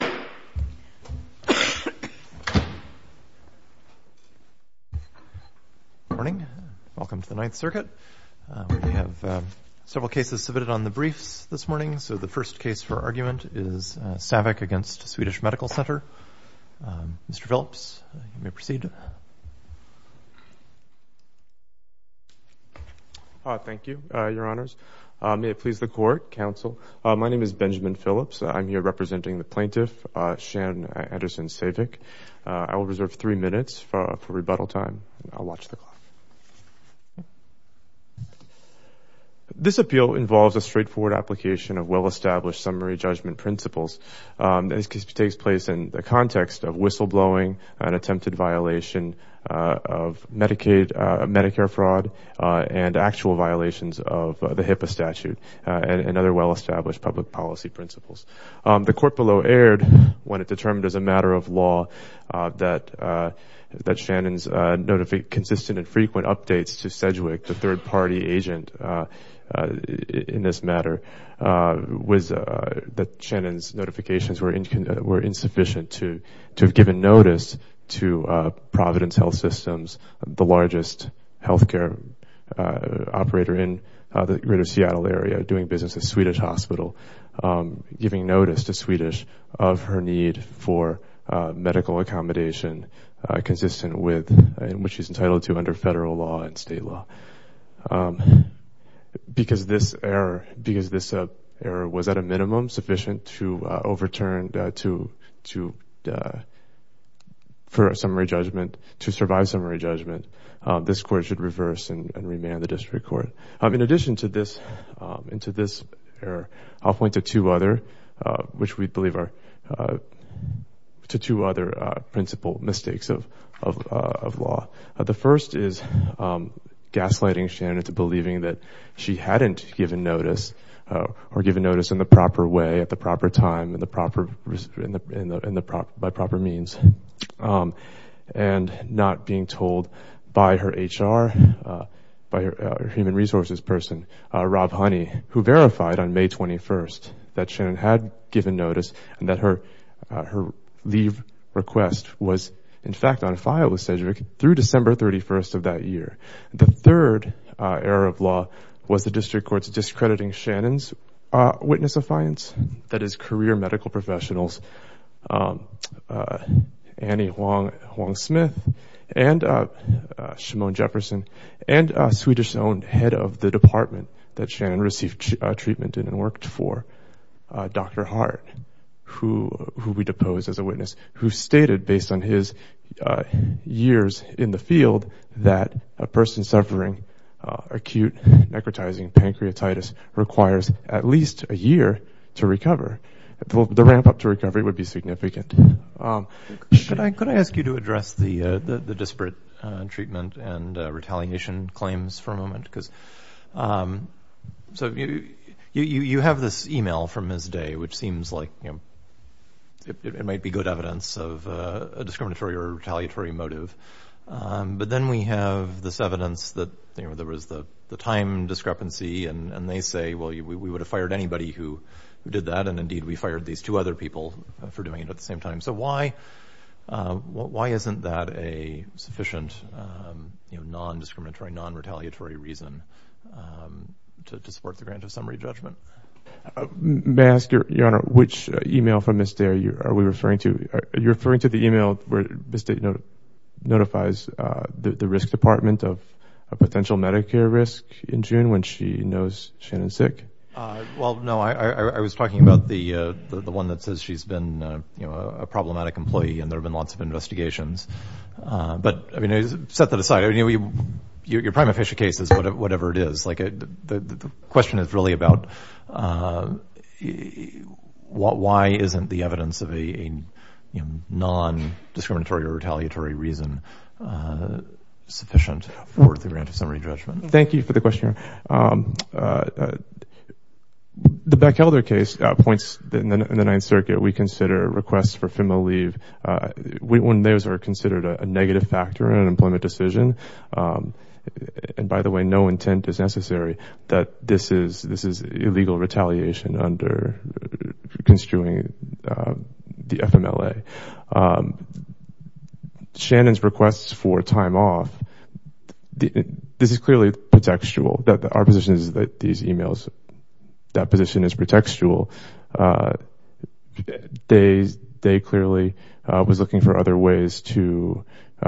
Good morning. Welcome to the Ninth Circuit. We have several cases submitted on the briefs this morning, so the first case for argument is Saevik v. Swedish Medical Center. Mr. Phillips, you may proceed. Thank you, Your Honors. May it please the Court. I will reserve three minutes for rebuttal time. I'll watch the clock. This appeal involves a straightforward application of well-established summary judgment principles. This case takes place in the context of whistleblowing, an attempted violation of Medicare fraud, and actual violations of the HIPAA statute, and other well-established public policy principles. The court below erred when it determined as a matter of law that Shannon's consistent and frequent updates to Sedgwick, the third-party agent in this matter, was that Shannon's notifications were insufficient to have given notice to Providence Health Systems, the largest to Swedish, of her need for medical accommodation consistent with what she's entitled to under federal law and state law. Because this error was at a minimum sufficient to overturn, to for a summary judgment, to survive summary judgment, this Court should reverse and remand the District Court. In addition to this error, I'll point to two other, which we believe are two other principal mistakes of law. The first is gaslighting Shannon into believing that she hadn't given notice, or given notice in the proper way, at the proper time, by proper means, and not being told by her HR, by her human resources person, Rob Honey, who verified on May 21st that Shannon had given notice and that her leave request was, in fact, on file with Sedgwick through December 31st of that year. The third error of law was the District Court's discrediting Shannon's witness-affiance, that is, career medical professionals, Annie Wong-Smith and Shimon Jefferson, and a Swedish-owned head of the department that Shannon received treatment in and worked for, Dr. Hart, who we deposed as a witness, who stated, based on his years in the field, that a person suffering acute necrotizing pancreatitis requires at least a year to recover. The ramp-up to recovery would be significant. Could I ask you to address the disparate treatment and retaliation claims for a moment? You have this email from Ms. Day, which seems like it might be good evidence of a discriminatory or retaliatory motive, but then we have this evidence that there was the time discrepancy and they say, well, we would have fired anybody who did that, and, indeed, we fired these two other people for doing it at the same time. So why isn't that a sufficient non-discriminatory, non-retaliatory reason to support the grant of summary judgment? May I ask, Your Honor, which email from Ms. Day are we referring to? Are you referring to the email where Ms. Day notifies the risk department of a potential Medicare risk in June when she knows Shannon's sick? Well, no. I was talking about the one that says she's been a problematic employee and there have been lots of investigations. But, I mean, set that aside. Your prime official case is whatever it is. The question is really about why isn't the evidence of a non-discriminatory or retaliatory reason sufficient for the grant of summary judgment? Thank you for the question, Your Honor. The Bechelder case points in the Ninth Circuit we consider requests for FEMA leave when those are considered a negative factor in an employment decision. And, by the way, no intent is necessary that this is illegal retaliation under construing the FMLA. Shannon's requests for time off, this is clearly pretextual. Our position is that these emails, that position is pretextual. Day clearly was looking for other ways to clean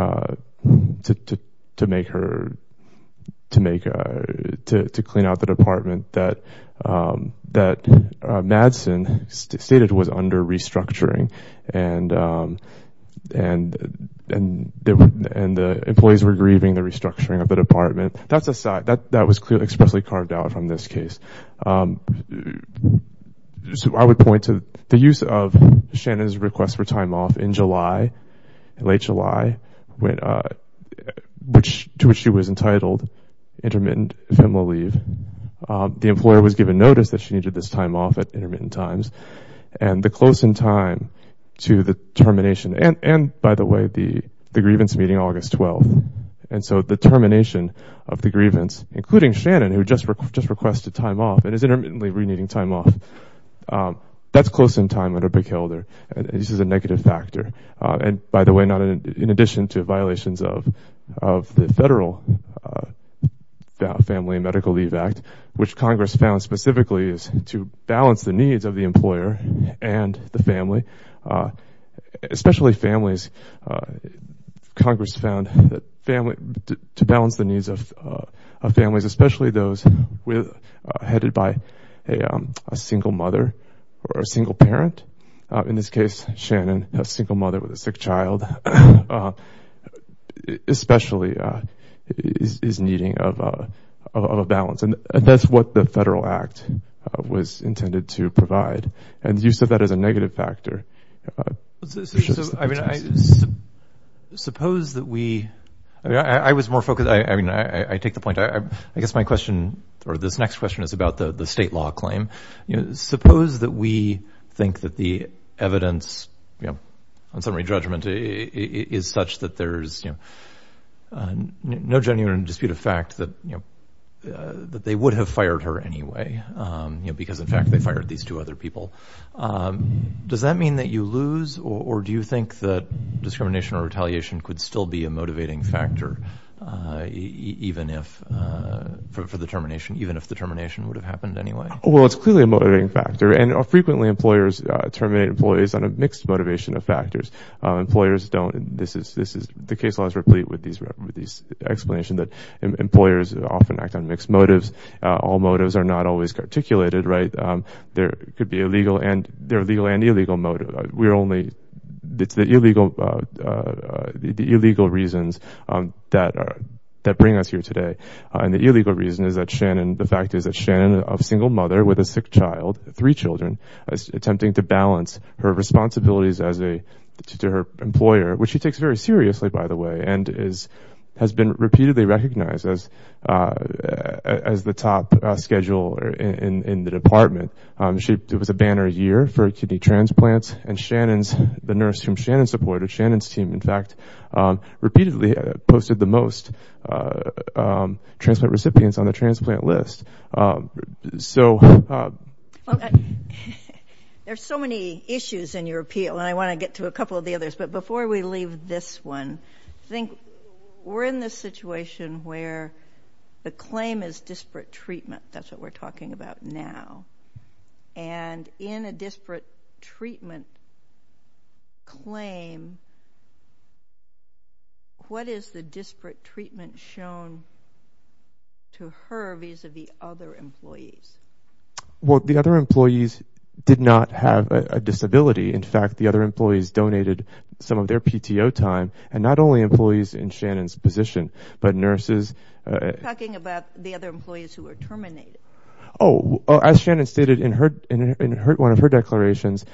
out the department that Madsen stated was under restructuring and the employees were grieving the restructuring of the department. That's aside. That was clearly expressly carved out from this case. I would point to the use of Shannon's request for time off in July, late July, to which she was entitled intermittent FEMA leave. The employer was given notice that she needed this time off at intermittent times. And the close in time to the termination and, by the way, the grievance meeting August 12th. And so, the termination of the grievance, including Shannon, who just requested time off and is intermittently reneeding time off, that's close in time under Bickhelder. This is a negative factor. And, by the way, not in addition to violations of the Federal Family and Medical Leave Act, which Congress found specifically is to balance the needs of the employer and the family, especially families. Congress found that to balance the needs of families, especially those headed by a single mother or a single parent, in this case, Shannon, a single mother with a sick child, especially is needing of a balance. And that's what the Federal Act was intended to provide. And use of that as a balance. Suppose that we, I was more focused. I mean, I take the point. I guess my question or this next question is about the state law claim. Suppose that we think that the evidence on summary judgment is such that there's no genuine dispute of fact that they would have fired her anyway, because, in fact, they fired these two other people. Does that mean that you lose or do you think that discrimination or retaliation could still be a motivating factor, even if for the termination, even if the termination would have happened anyway? Well, it's clearly a motivating factor. And frequently employers terminate employees on a mixed motivation of factors. Employers don't, this is, the case laws replete with these explanations that employers often act on mixed motives. All motives are not always articulated, right? There could be a legal and, and illegal motive. We're only, it's the illegal, the illegal reasons that are, that bring us here today. And the illegal reason is that Shannon, the fact is that Shannon, a single mother with a sick child, three children, attempting to balance her responsibilities as a, to her employer, which she takes very seriously, by the way, and is, has been repeatedly recognized as, as the top scheduler in the department. She, it was a banner year for kidney transplants, and Shannon's, the nurse whom Shannon supported, Shannon's team, in fact, repeatedly posted the most transplant recipients on the transplant list. So. There's so many issues in your appeal, and I want to get to a couple of the others. But before we leave this one, I think we're in this situation where the claim is disparate treatment. That's what we're talking about now. And in a disparate treatment claim, what is the disparate treatment shown to her, vis-a-vis other employees? Well, the other employees did not have a disability. In fact, the other employees donated some of their PTO time, and not only employees in Shannon's position, but nurses. You're talking about the other employees who were terminated. Oh, as Shannon stated in her, in her, one of her declarations,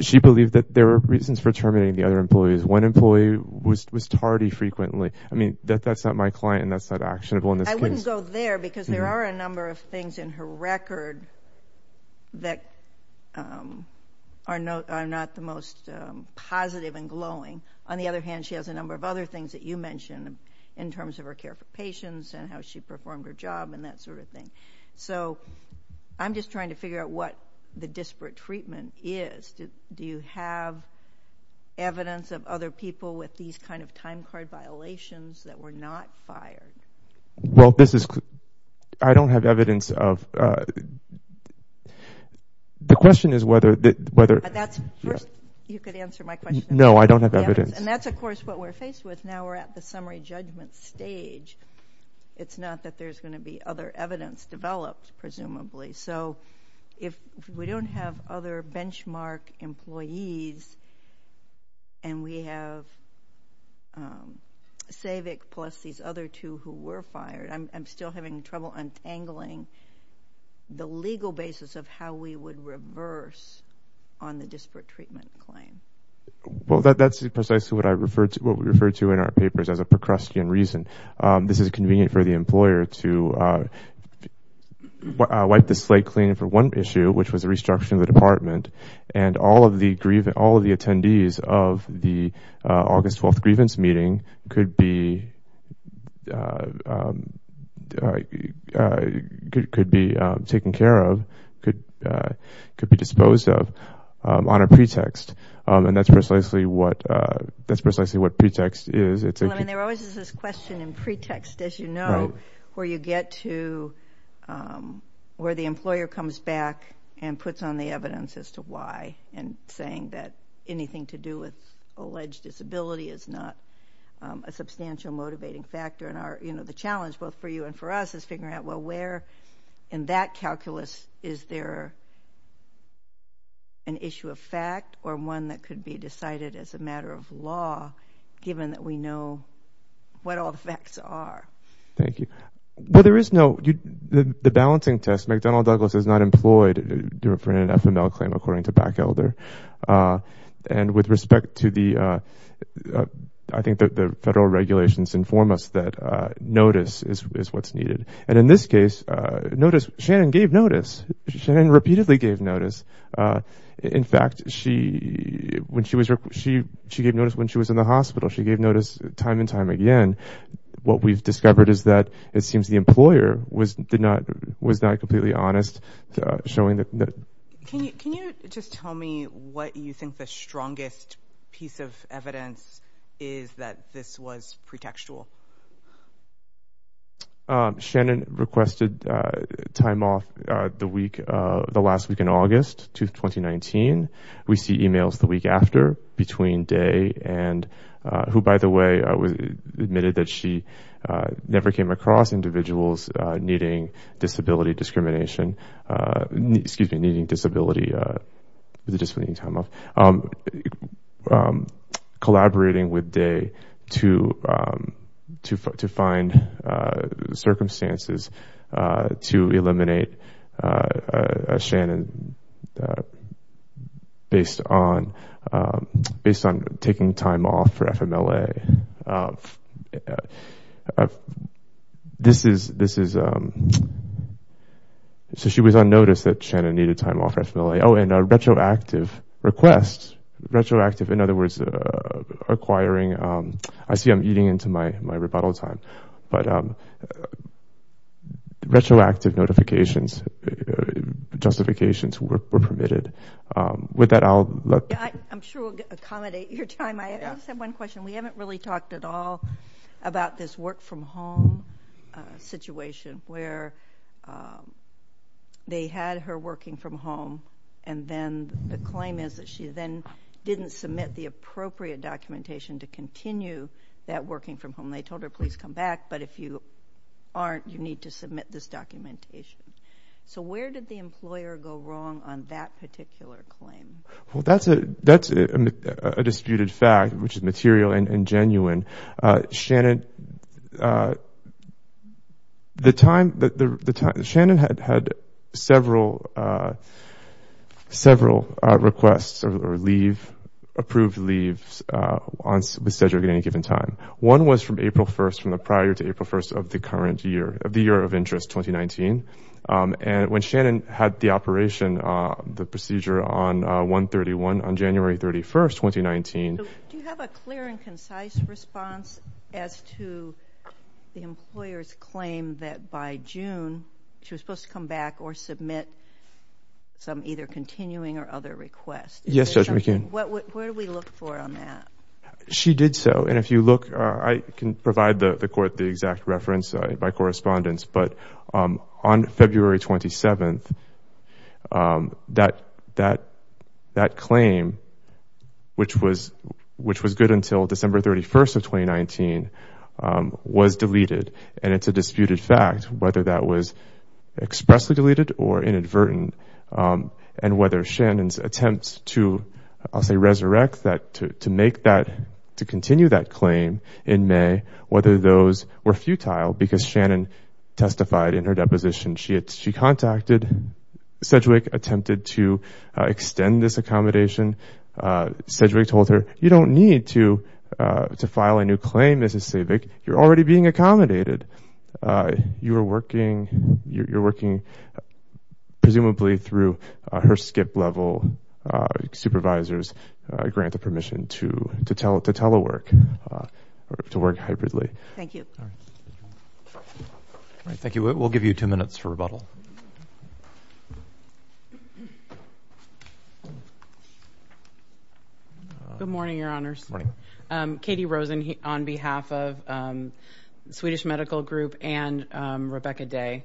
she believed that there were reasons for terminating the other employees. One employee was tardy frequently. I mean, that's not my client, and that's not actionable in this case. I wouldn't go there, because there are a number of things in her record that are not the most positive and glowing. On the other hand, she has a number of other things that you mentioned in terms of her care for patients, and how she performed her job, and that sort of thing. So I'm just trying to figure out what the disparate treatment is. Do you have evidence of other people with these kind of time card violations that were not fired? Well, this is, I don't have evidence of, the question is whether, whether, that's, you could answer my question. No, I don't have evidence. And that's, of course, what we're faced with now. We're at the summary judgment stage. It's not that there's going to be other evidence developed, presumably. So if we don't have other benchmark employees, and we have Savick plus these other two who were fired, I'm still having trouble untangling the legal basis of how we would reverse on the disparate treatment claim. Well, that's precisely what I referred to, what we referred to in our papers, as a Procrustean reason. This is convenient for the employer to wipe the slate clean for one issue, which was a restructuring of the department, and all of the, all of the attendees of the August 12th grievance meeting could be, could be taken care of, could be disposed of on a pretext. And that's precisely what, that's precisely what pretext is. There always is this question in pretext, as you know, where you get to, where the employer comes back and puts on the evidence as to why, and saying that anything to do with alleged disability is not a substantial motivating factor in our, you know, the challenge, both for you and for us, is figuring out, well, where in that calculus is there an issue of fact, or one that could be decided as a matter of law, given that we know what all the facts are. Thank you. Well, there is no, the balancing test, McDonnell Douglas is not employed for an FML claim, according to Backelder. And with respect to the, I think that the federal regulations inform us that notice is what's needed. And in this case, notice, Shannon gave notice. Shannon repeatedly gave notice. In fact, she, when she was, she, she gave notice when she was in the hospital. She gave notice time and time again. What we've discovered is that it seems the honest showing that, can you, can you just tell me what you think the strongest piece of evidence is that this was pretextual? Shannon requested time off the week, the last week in August to 2019. We see emails the week after, between day and, who, by the way, admitted that she never came across individuals needing disability discrimination, excuse me, needing disability, with a disability time off, collaborating with day to, to, to find circumstances to eliminate Shannon based on, based on taking time off for FMLA. This is, this is, so she was unnoticed that Shannon needed time off for FMLA. Oh, and a retroactive request, retroactive, in other words, acquiring, I see I'm eating into my, my rebuttal time, but retroactive notifications, justifications were permitted. With that, I'll look, I'm sure accommodate your time. I just have one question. We haven't really talked at all about this work from home situation where they had her working from home and then the claim is that she then didn't submit the appropriate documentation to continue that working from home. They told her, please come back, but if you aren't, you need to submit this documentation. So where did the disputed fact, which is material and genuine, Shannon, the time that the time, Shannon had, had several, several requests or leave, approved leaves on, with Sedgwick at any given time. One was from April 1st, from the prior to April 1st of the current year, of the year of interest, 2019, and when the operation, the procedure on 131 on January 31st, 2019. Do you have a clear and concise response as to the employer's claim that by June, she was supposed to come back or submit some either continuing or other requests? Yes, Judge McKeon. Where do we look for on that? She did so, and if you look, I can provide the that, that, that claim, which was, which was good until December 31st of 2019, was deleted, and it's a disputed fact, whether that was expressly deleted or inadvertent, and whether Shannon's attempts to, I'll say, resurrect that, to make that, to continue that claim in May, whether those were futile, because she contacted, Sedgwick attempted to extend this accommodation. Sedgwick told her, you don't need to, to file a new claim, Mrs. Savick. You're already being accommodated. You are working, you're working, presumably, through her skip-level supervisors grant of permission to, to tell, to telework, to work hybridly. Thank you. All right, thank you. We'll give you two minutes for rebuttal. Good morning, Your Honors. Morning. Katie Rosen, on behalf of the Swedish Medical Group and Rebecca Day.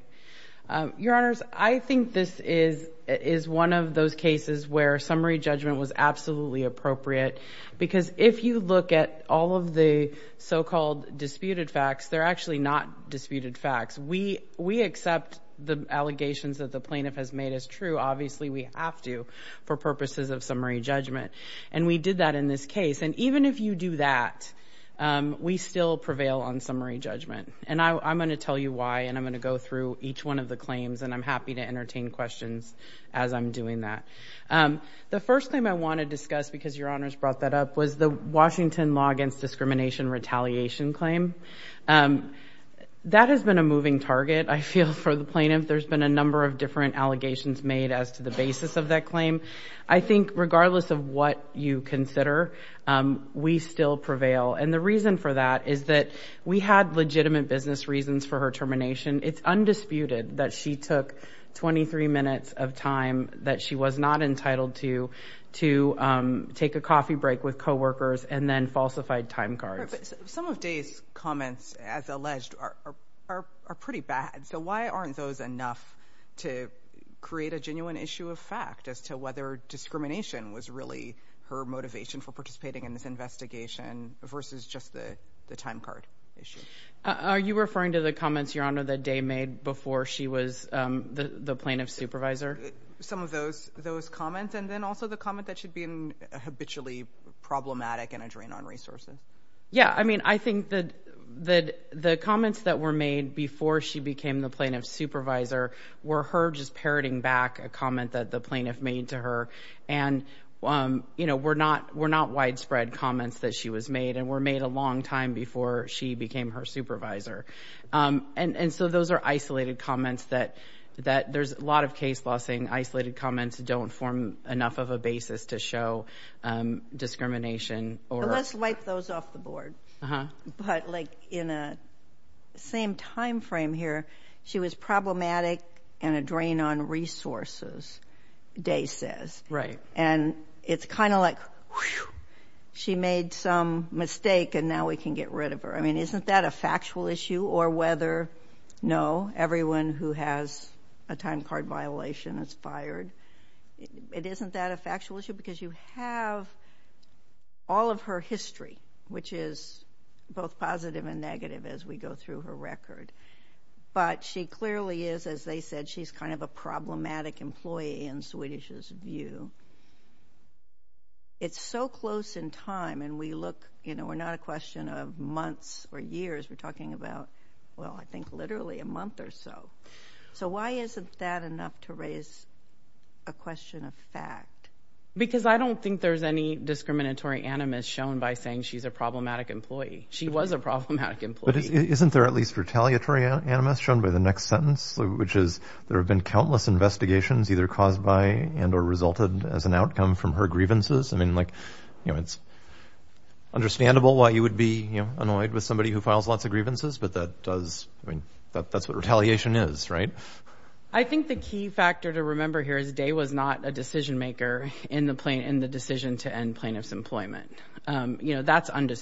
Your Honors, I think this is, is one of those disputed facts. They're actually not disputed facts. We, we accept the allegations that the plaintiff has made as true. Obviously, we have to, for purposes of summary judgment, and we did that in this case, and even if you do that, we still prevail on summary judgment, and I, I'm going to tell you why, and I'm going to go through each one of the claims, and I'm happy to entertain questions as I'm doing that. The first thing I want to discuss, because Your Honors brought that up, was the Washington Law Against Discrimination Retaliation claim. That has been a moving target, I feel, for the plaintiff. There's been a number of different allegations made as to the basis of that claim. I think, regardless of what you consider, we still prevail, and the reason for that is that we had legitimate business reasons for her termination. It's and then falsified time cards. Some of Day's comments, as alleged, are, are, are pretty bad, so why aren't those enough to create a genuine issue of fact as to whether discrimination was really her motivation for participating in this investigation versus just the, the time card issue? Are you referring to the comments, Your Honor, that Day made before she was the, the plaintiff's supervisor? Some of those, those comments, and then also the comment that she'd been habitually problematic and a drain on resources. Yeah, I mean, I think that, that the comments that were made before she became the plaintiff's supervisor were her just parroting back a comment that the plaintiff made to her, and, you know, were not, were not widespread comments that she was made, and were made a long time before she became her supervisor. And, and so those are isolated comments that, that, there's a lot of case law saying isolated comments don't form enough of a basis to show discrimination or. Let's wipe those off the board. Uh-huh. But, like, in a same time frame here, she was problematic and a drain on resources, Day says. Right. And it's kind of like, whew, she made some mistake and now we can get rid of her. I mean, isn't that a factual issue? Or whether, no, everyone who has a time card violation is fired. It isn't that a factual issue? Because you have all of her history, which is both positive and negative. It's so close in time and we look, you know, we're not a question of months or years. We're talking about, well, I think literally a month or so. So why isn't that enough to raise a question of fact? Because I don't think there's any discriminatory animus shown by saying she's a problematic employee. She was a problematic employee. But isn't there at least retaliatory animus shown by the next sentence, which is, there have been countless investigations either caused by and or resulted as an outcome from her grievances? I mean, like, you know, it's understandable why you would be annoyed with somebody who files lots of grievances, but that does, I mean, that's what retaliation is, right? I think the key factor to remember here is Day was not a decision maker in the decision to end plaintiff's employment. You know, that's Right, but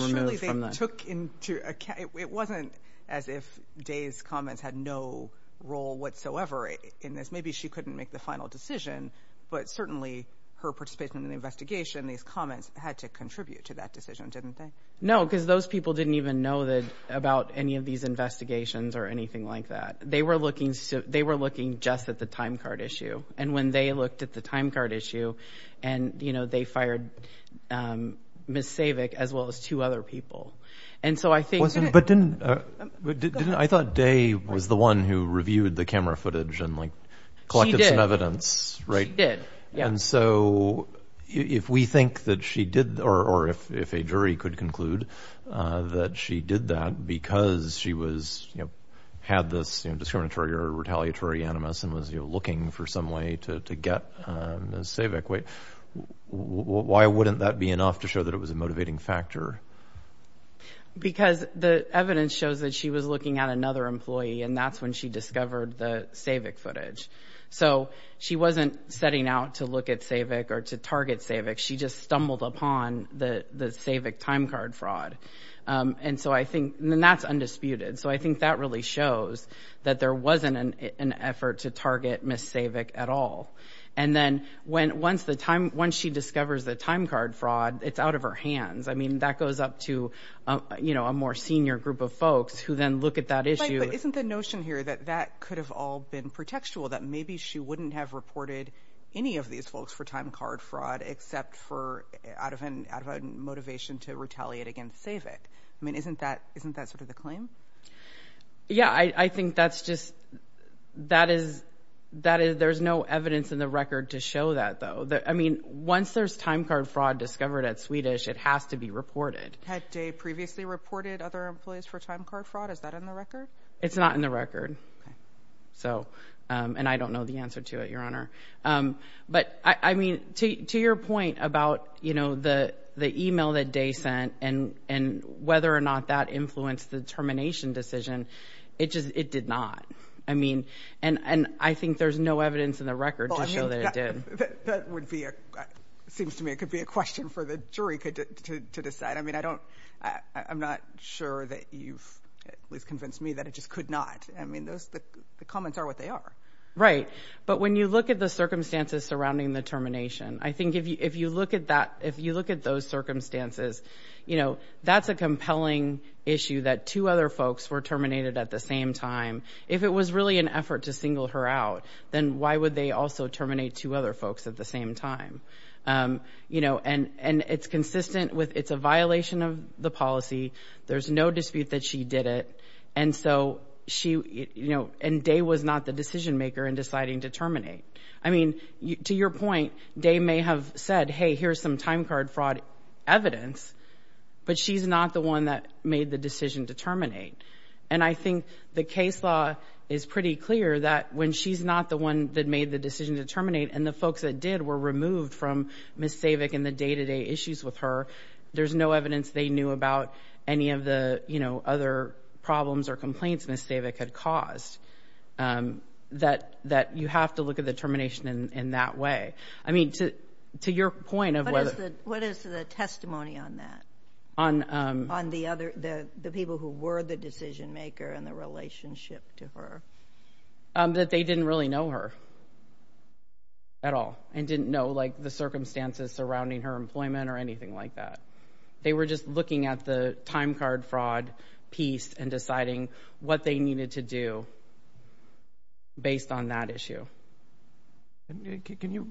surely they took into account, it wasn't as if Day's comments had no role whatsoever in this. Maybe she couldn't make the final decision, but certainly her participation in the investigation, these comments had to contribute to that decision, didn't they? No, because those people didn't even know that about any of these investigations or anything like that. They were looking, they were looking just at the timecard issue. And, you know, they fired Ms. Savick, as well as two other people. And so I think But didn't, I thought Day was the one who reviewed the camera footage and, like, collected some evidence, right? She did, yeah. And so if we think that she did, or if a jury could conclude that she did that because she was, you know, had this discriminatory or retaliatory animus and was, you know, looking for some way to get Ms. Savick, why wouldn't that be enough to show that it was a motivating factor? Because the evidence shows that she was looking at another employee, and that's when she discovered the Savick footage. So she wasn't setting out to look at Savick or to target Savick. She just stumbled upon the Savick timecard fraud. And so I think, and that's undisputed. So I think that really shows that there wasn't an effort to target Ms. Savick at all. And then when once the time, once she discovers the timecard fraud, it's out of her hands. I mean, that goes up to, you know, a more senior group of folks who then look at that issue. But isn't the notion here that that could have all been pretextual, that maybe she wouldn't have reported any of these folks for timecard fraud, except for out of an out of a motivation to retaliate against Savick? I mean, isn't that isn't that sort of the claim? Yeah, I think that's just, that is, that is, there's no evidence in the record to show that, though, that I mean, once there's timecard fraud discovered at Swedish, it has to be reported. Had Day previously reported other employees for timecard fraud? Is that in the record? It's not in the record. So, and I don't know the answer to it, Your Honor. But I mean, to your point about, you know, the, the email that Day sent and, and the termination decision, it just, it did not. I mean, and, and I think there's no evidence in the record to show that it did. That would be a, seems to me it could be a question for the jury to decide. I mean, I don't, I'm not sure that you've convinced me that it just could not. I mean, those, the comments are what they are. Right. But when you look at the circumstances surrounding the termination, I think if you look at that, if you look at those circumstances, you know, that's a compelling issue that two other folks were terminated at the same time. If it was really an effort to single her out, then why would they also terminate two other folks at the same time? You know, and, and it's consistent with, it's a violation of the policy. There's no dispute that she did it. And so, she, you know, and Day was not the decision maker in deciding to terminate. I mean, to your point, Day may have said, hey, here's some time card fraud evidence, but she's not the one that made the decision to terminate. And I think the case law is pretty clear that when she's not the one that made the decision to terminate, and the folks that did were removed from Ms. Savick and the day-to-day issues with her, there's no evidence they knew about any of the, you know, other problems or complaints Ms. Savick had caused. That, that you have to look at the termination in, in that way. I mean, to, to your point of whether… What is the, what is the testimony on that? On… On the other, the, the people who were the decision maker and the relationship to her? That they didn't really know her at all and didn't know, like, the circumstances surrounding her employment or anything like that. They were just looking at the time card fraud piece and deciding what they needed to do based on that issue. Can you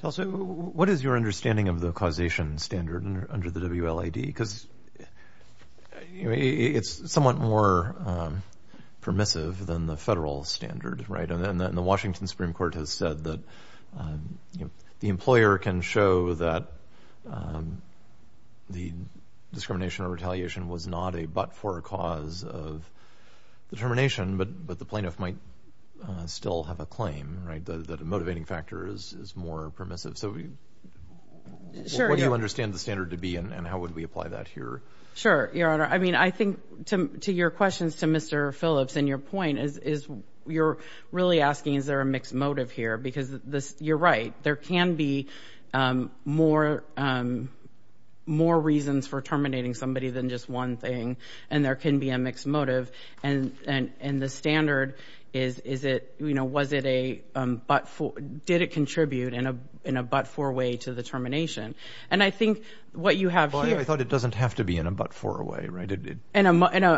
tell us, what is your understanding of the causation standard under the WLAD? Because it's somewhat more permissive than the federal standard, right? And the Washington Supreme Court has said that, you know, the employer can show that the discrimination or retaliation was not a but-for cause of the termination, but, but the plaintiff might still have a claim, right? That a motivating factor is, is more permissive. So, what do you understand the standard to be and how would we apply that here? Sure, Your Honor. I mean, I think to, to your questions to Mr. Phillips and your point is, is, you're really asking, is there a mixed motive here? Because this, you're right, there can be more, more reasons for terminating somebody than just one thing and there can be a mixed motive. And, and, and the standard is, is it, you know, was it a but-for, did it contribute in a, in a but-for way to the termination? And I think what you have here… In a, in a,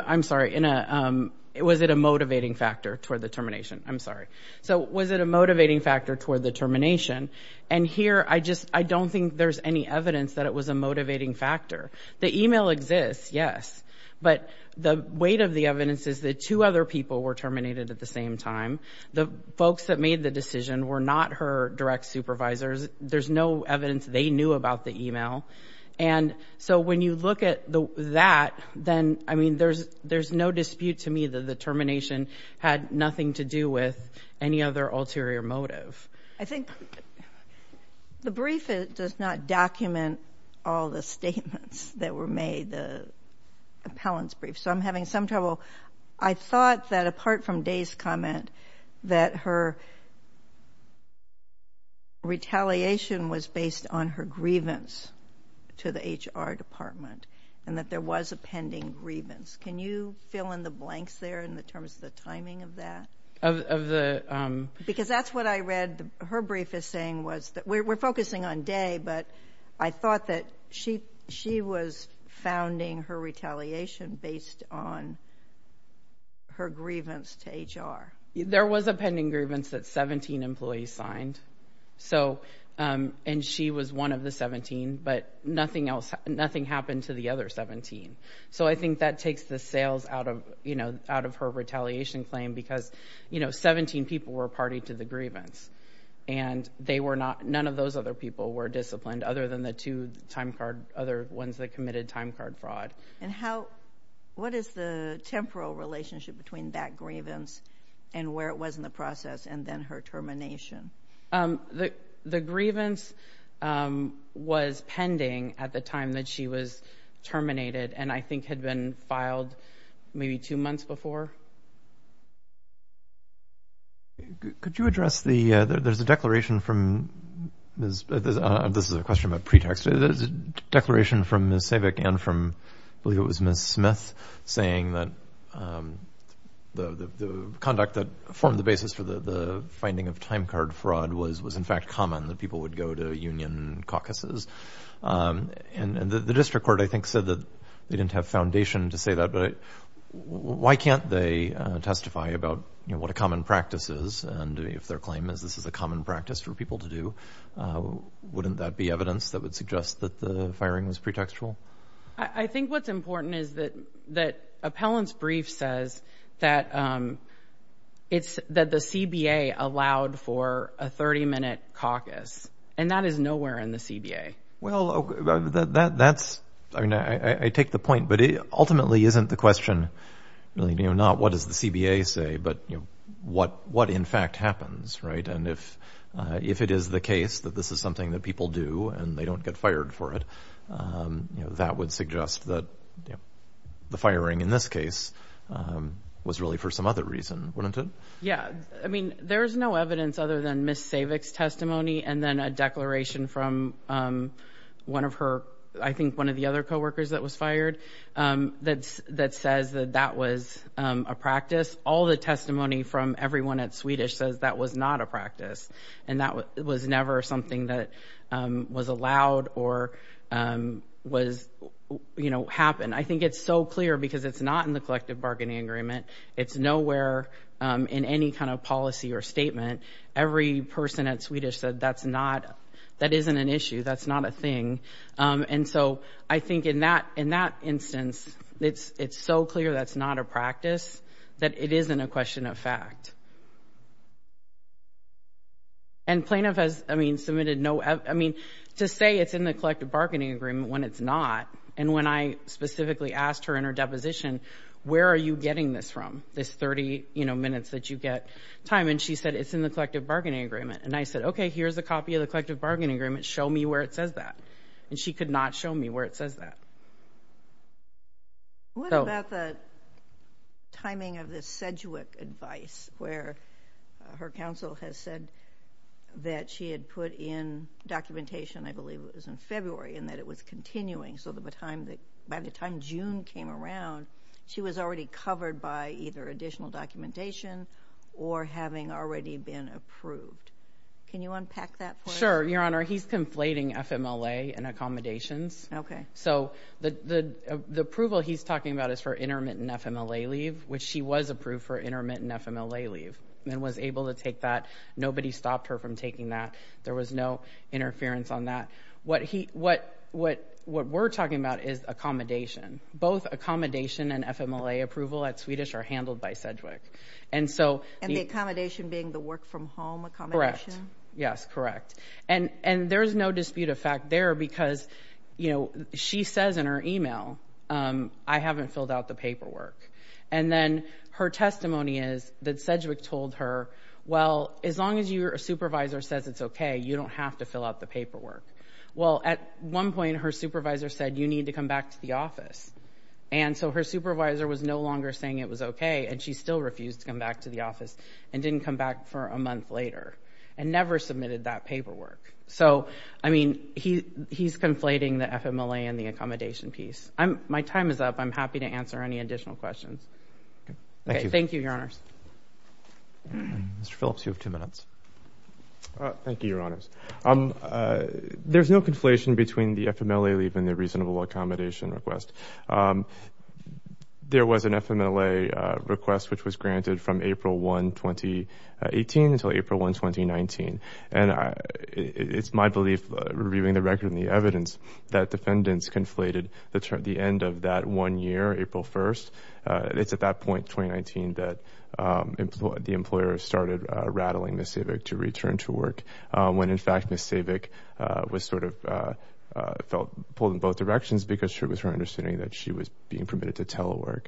I'm sorry, in a, was it a motivating factor toward the termination? I'm sorry. So, was it a motivating factor toward the termination? And here, I just, I don't think there's any evidence that it was a motivating factor. The email exists, yes, but the weight of the evidence is that two other people were terminated at the same time. The folks that made the decision were not her direct supervisors. There's no evidence they knew about the email. And so, when you look at that, then, I mean, there's, there's no dispute to me that the termination had nothing to do with any other ulterior motive. I think the brief does not document all the statements that were made, the appellant's brief, so I'm having some trouble. So, I thought that, apart from Day's comment, that her retaliation was based on her grievance to the HR department, and that there was a pending grievance. Can you fill in the blanks there in terms of the timing of that? Of the… Because that's what I read her brief is saying was that, we're focusing on Day, but I thought that she, she was founding her retaliation based on her grievance to HR. There was a pending grievance that 17 employees signed, so, and she was one of the 17, but nothing else, nothing happened to the other 17. So, I think that takes the sails out of, you know, out of her retaliation claim because, you know, 17 people were party to the grievance, and they were not, none of those other people were disciplined other than the two time card, other ones that committed time card fraud. And how, what is the temporal relationship between that grievance and where it was in the process and then her termination? The grievance was pending at the time that she was terminated, and I think had been filed maybe two months before. Could you address the, there's a declaration from, this is a question about pretext, there's a declaration from Ms. Savick and from, I believe it was Ms. Smith, saying that the conduct that formed the basis for the finding of time card fraud was in fact common, that people would go to union caucuses. And the district court, I think, said that they didn't have foundation to say that, but why can't they testify about, you know, what a common practice is, and if their claim is this is a common practice for people to do, wouldn't that be evidence that would suggest that the firing was pretextual? I think what's important is that, that appellant's brief says that it's, that the CBA allowed for a 30-minute caucus, and that is nowhere in the CBA. Well, that's, I mean, I take the point, but it ultimately isn't the question, you know, not what does the CBA say, but what in fact happens, right? And if it is the case that this is something that people do and they don't get fired for it, that would suggest that the firing in this case was really for some other reason, wouldn't it? Yeah, I mean, there's no evidence other than Ms. Savick's testimony, and then a declaration from one of her, I think one of the other co-workers that was fired, that says that that was a practice. All the testimony from everyone at Swedish says that was not a practice, and that was never something that was allowed or was, you know, happened. I think it's so clear because it's not in the collective bargaining agreement. It's nowhere in any kind of policy or statement. Every person at Swedish said that's not, that isn't an issue, that's not a thing. And so I think in that, in that instance, it's, it's so clear that's not a practice, that it isn't a question of fact. And plaintiff has, I mean, submitted no, I mean, to say it's in the collective bargaining agreement when it's not, and when I specifically asked her in her deposition, where are you getting this from, this 30, you know, minutes that you get time? And she said it's in the collective bargaining agreement. And I said, okay, here's a copy of the collective bargaining agreement, show me where it says that. And she could not show me where it says that. What about the timing of this Sedgwick advice where her counsel has said that she had put in documentation, I believe it was in February, and that it was continuing. So by the time June came around, she was already covered by either additional documentation or having already been approved. Can you unpack that for us? Sure, Your Honor. He's conflating FMLA and accommodations. Okay. So the approval he's talking about is for intermittent FMLA leave, which she was approved for intermittent FMLA leave, and was able to take that. Nobody stopped her from taking that. There was no interference on that. What we're talking about is accommodation. Both accommodation and FMLA approval at Swedish are handled by Sedgwick. And the accommodation being the work-from-home accommodation? Correct. Yes, correct. And there's no dispute of fact there because, you know, she says in her email, I haven't filled out the paperwork. And then her testimony is that Sedgwick told her, well, as long as your supervisor says it's okay, you don't have to fill out the paperwork. Well, at one point, her supervisor said, you need to come back to the office. And so her supervisor was no longer saying it was okay, and she still refused to come back to the office and didn't come back for a month later, and never submitted that paperwork. So, I mean, he's conflating the FMLA and the accommodation piece. My time is up. I'm happy to answer any additional questions. Thank you, Your Honors. Mr. Phillips, you have two minutes. Thank you, Your Honors. There's no conflation between the FMLA leave and the reasonable accommodation request. There was an FMLA request which was granted from April 1, 2018 until April 1, 2019. And it's my belief, reviewing the record and the evidence, that defendants conflated the end of that one year, April 1st. It's at that point, 2019, that the employer started rattling Ms. Sedgwick to return to work, when, in fact, Ms. Sedgwick was sort of pulled in both directions because it was her understanding that she was being permitted to telework.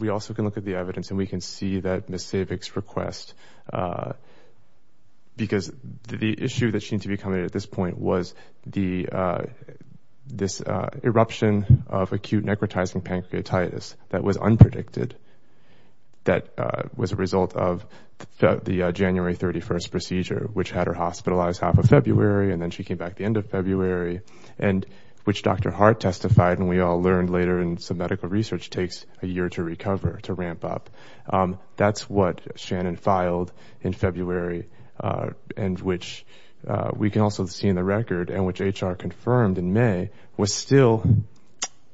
We also can look at the evidence, and we can see that Ms. Sedgwick's request, because the issue that seemed to be coming at this point was this eruption of acute necrotizing pancreatitis that was unpredicted, that was a result of the January 31st procedure, which had her hospitalized half of February, and then she came back the end of February, and which Dr. Hart testified, and we all learned later in some medical research, takes a year to recover, to ramp up. That's what Shannon filed in February, and which we can also see in the record, and which HR confirmed in May, was still,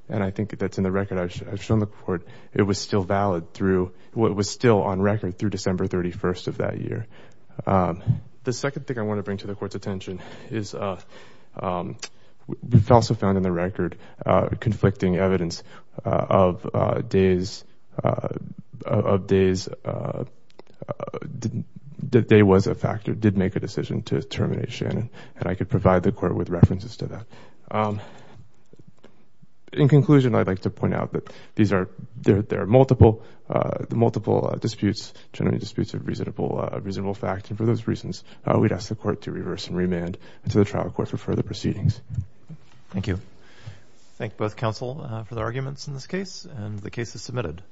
and I think that's in the record I've shown the Court, but it was still valid through what was still on record through December 31st of that year. The second thing I want to bring to the Court's attention is we've also found in the record conflicting evidence of days, the day was a factor, did make a decision to terminate Shannon, and I could provide the Court with references to that. In conclusion, I'd like to point out that there are multiple disputes, generally disputes of reasonable fact, and for those reasons, we'd ask the Court to reverse and remand into the trial court for further proceedings. Thank you. Thank both counsel for the arguments in this case, and the case is submitted.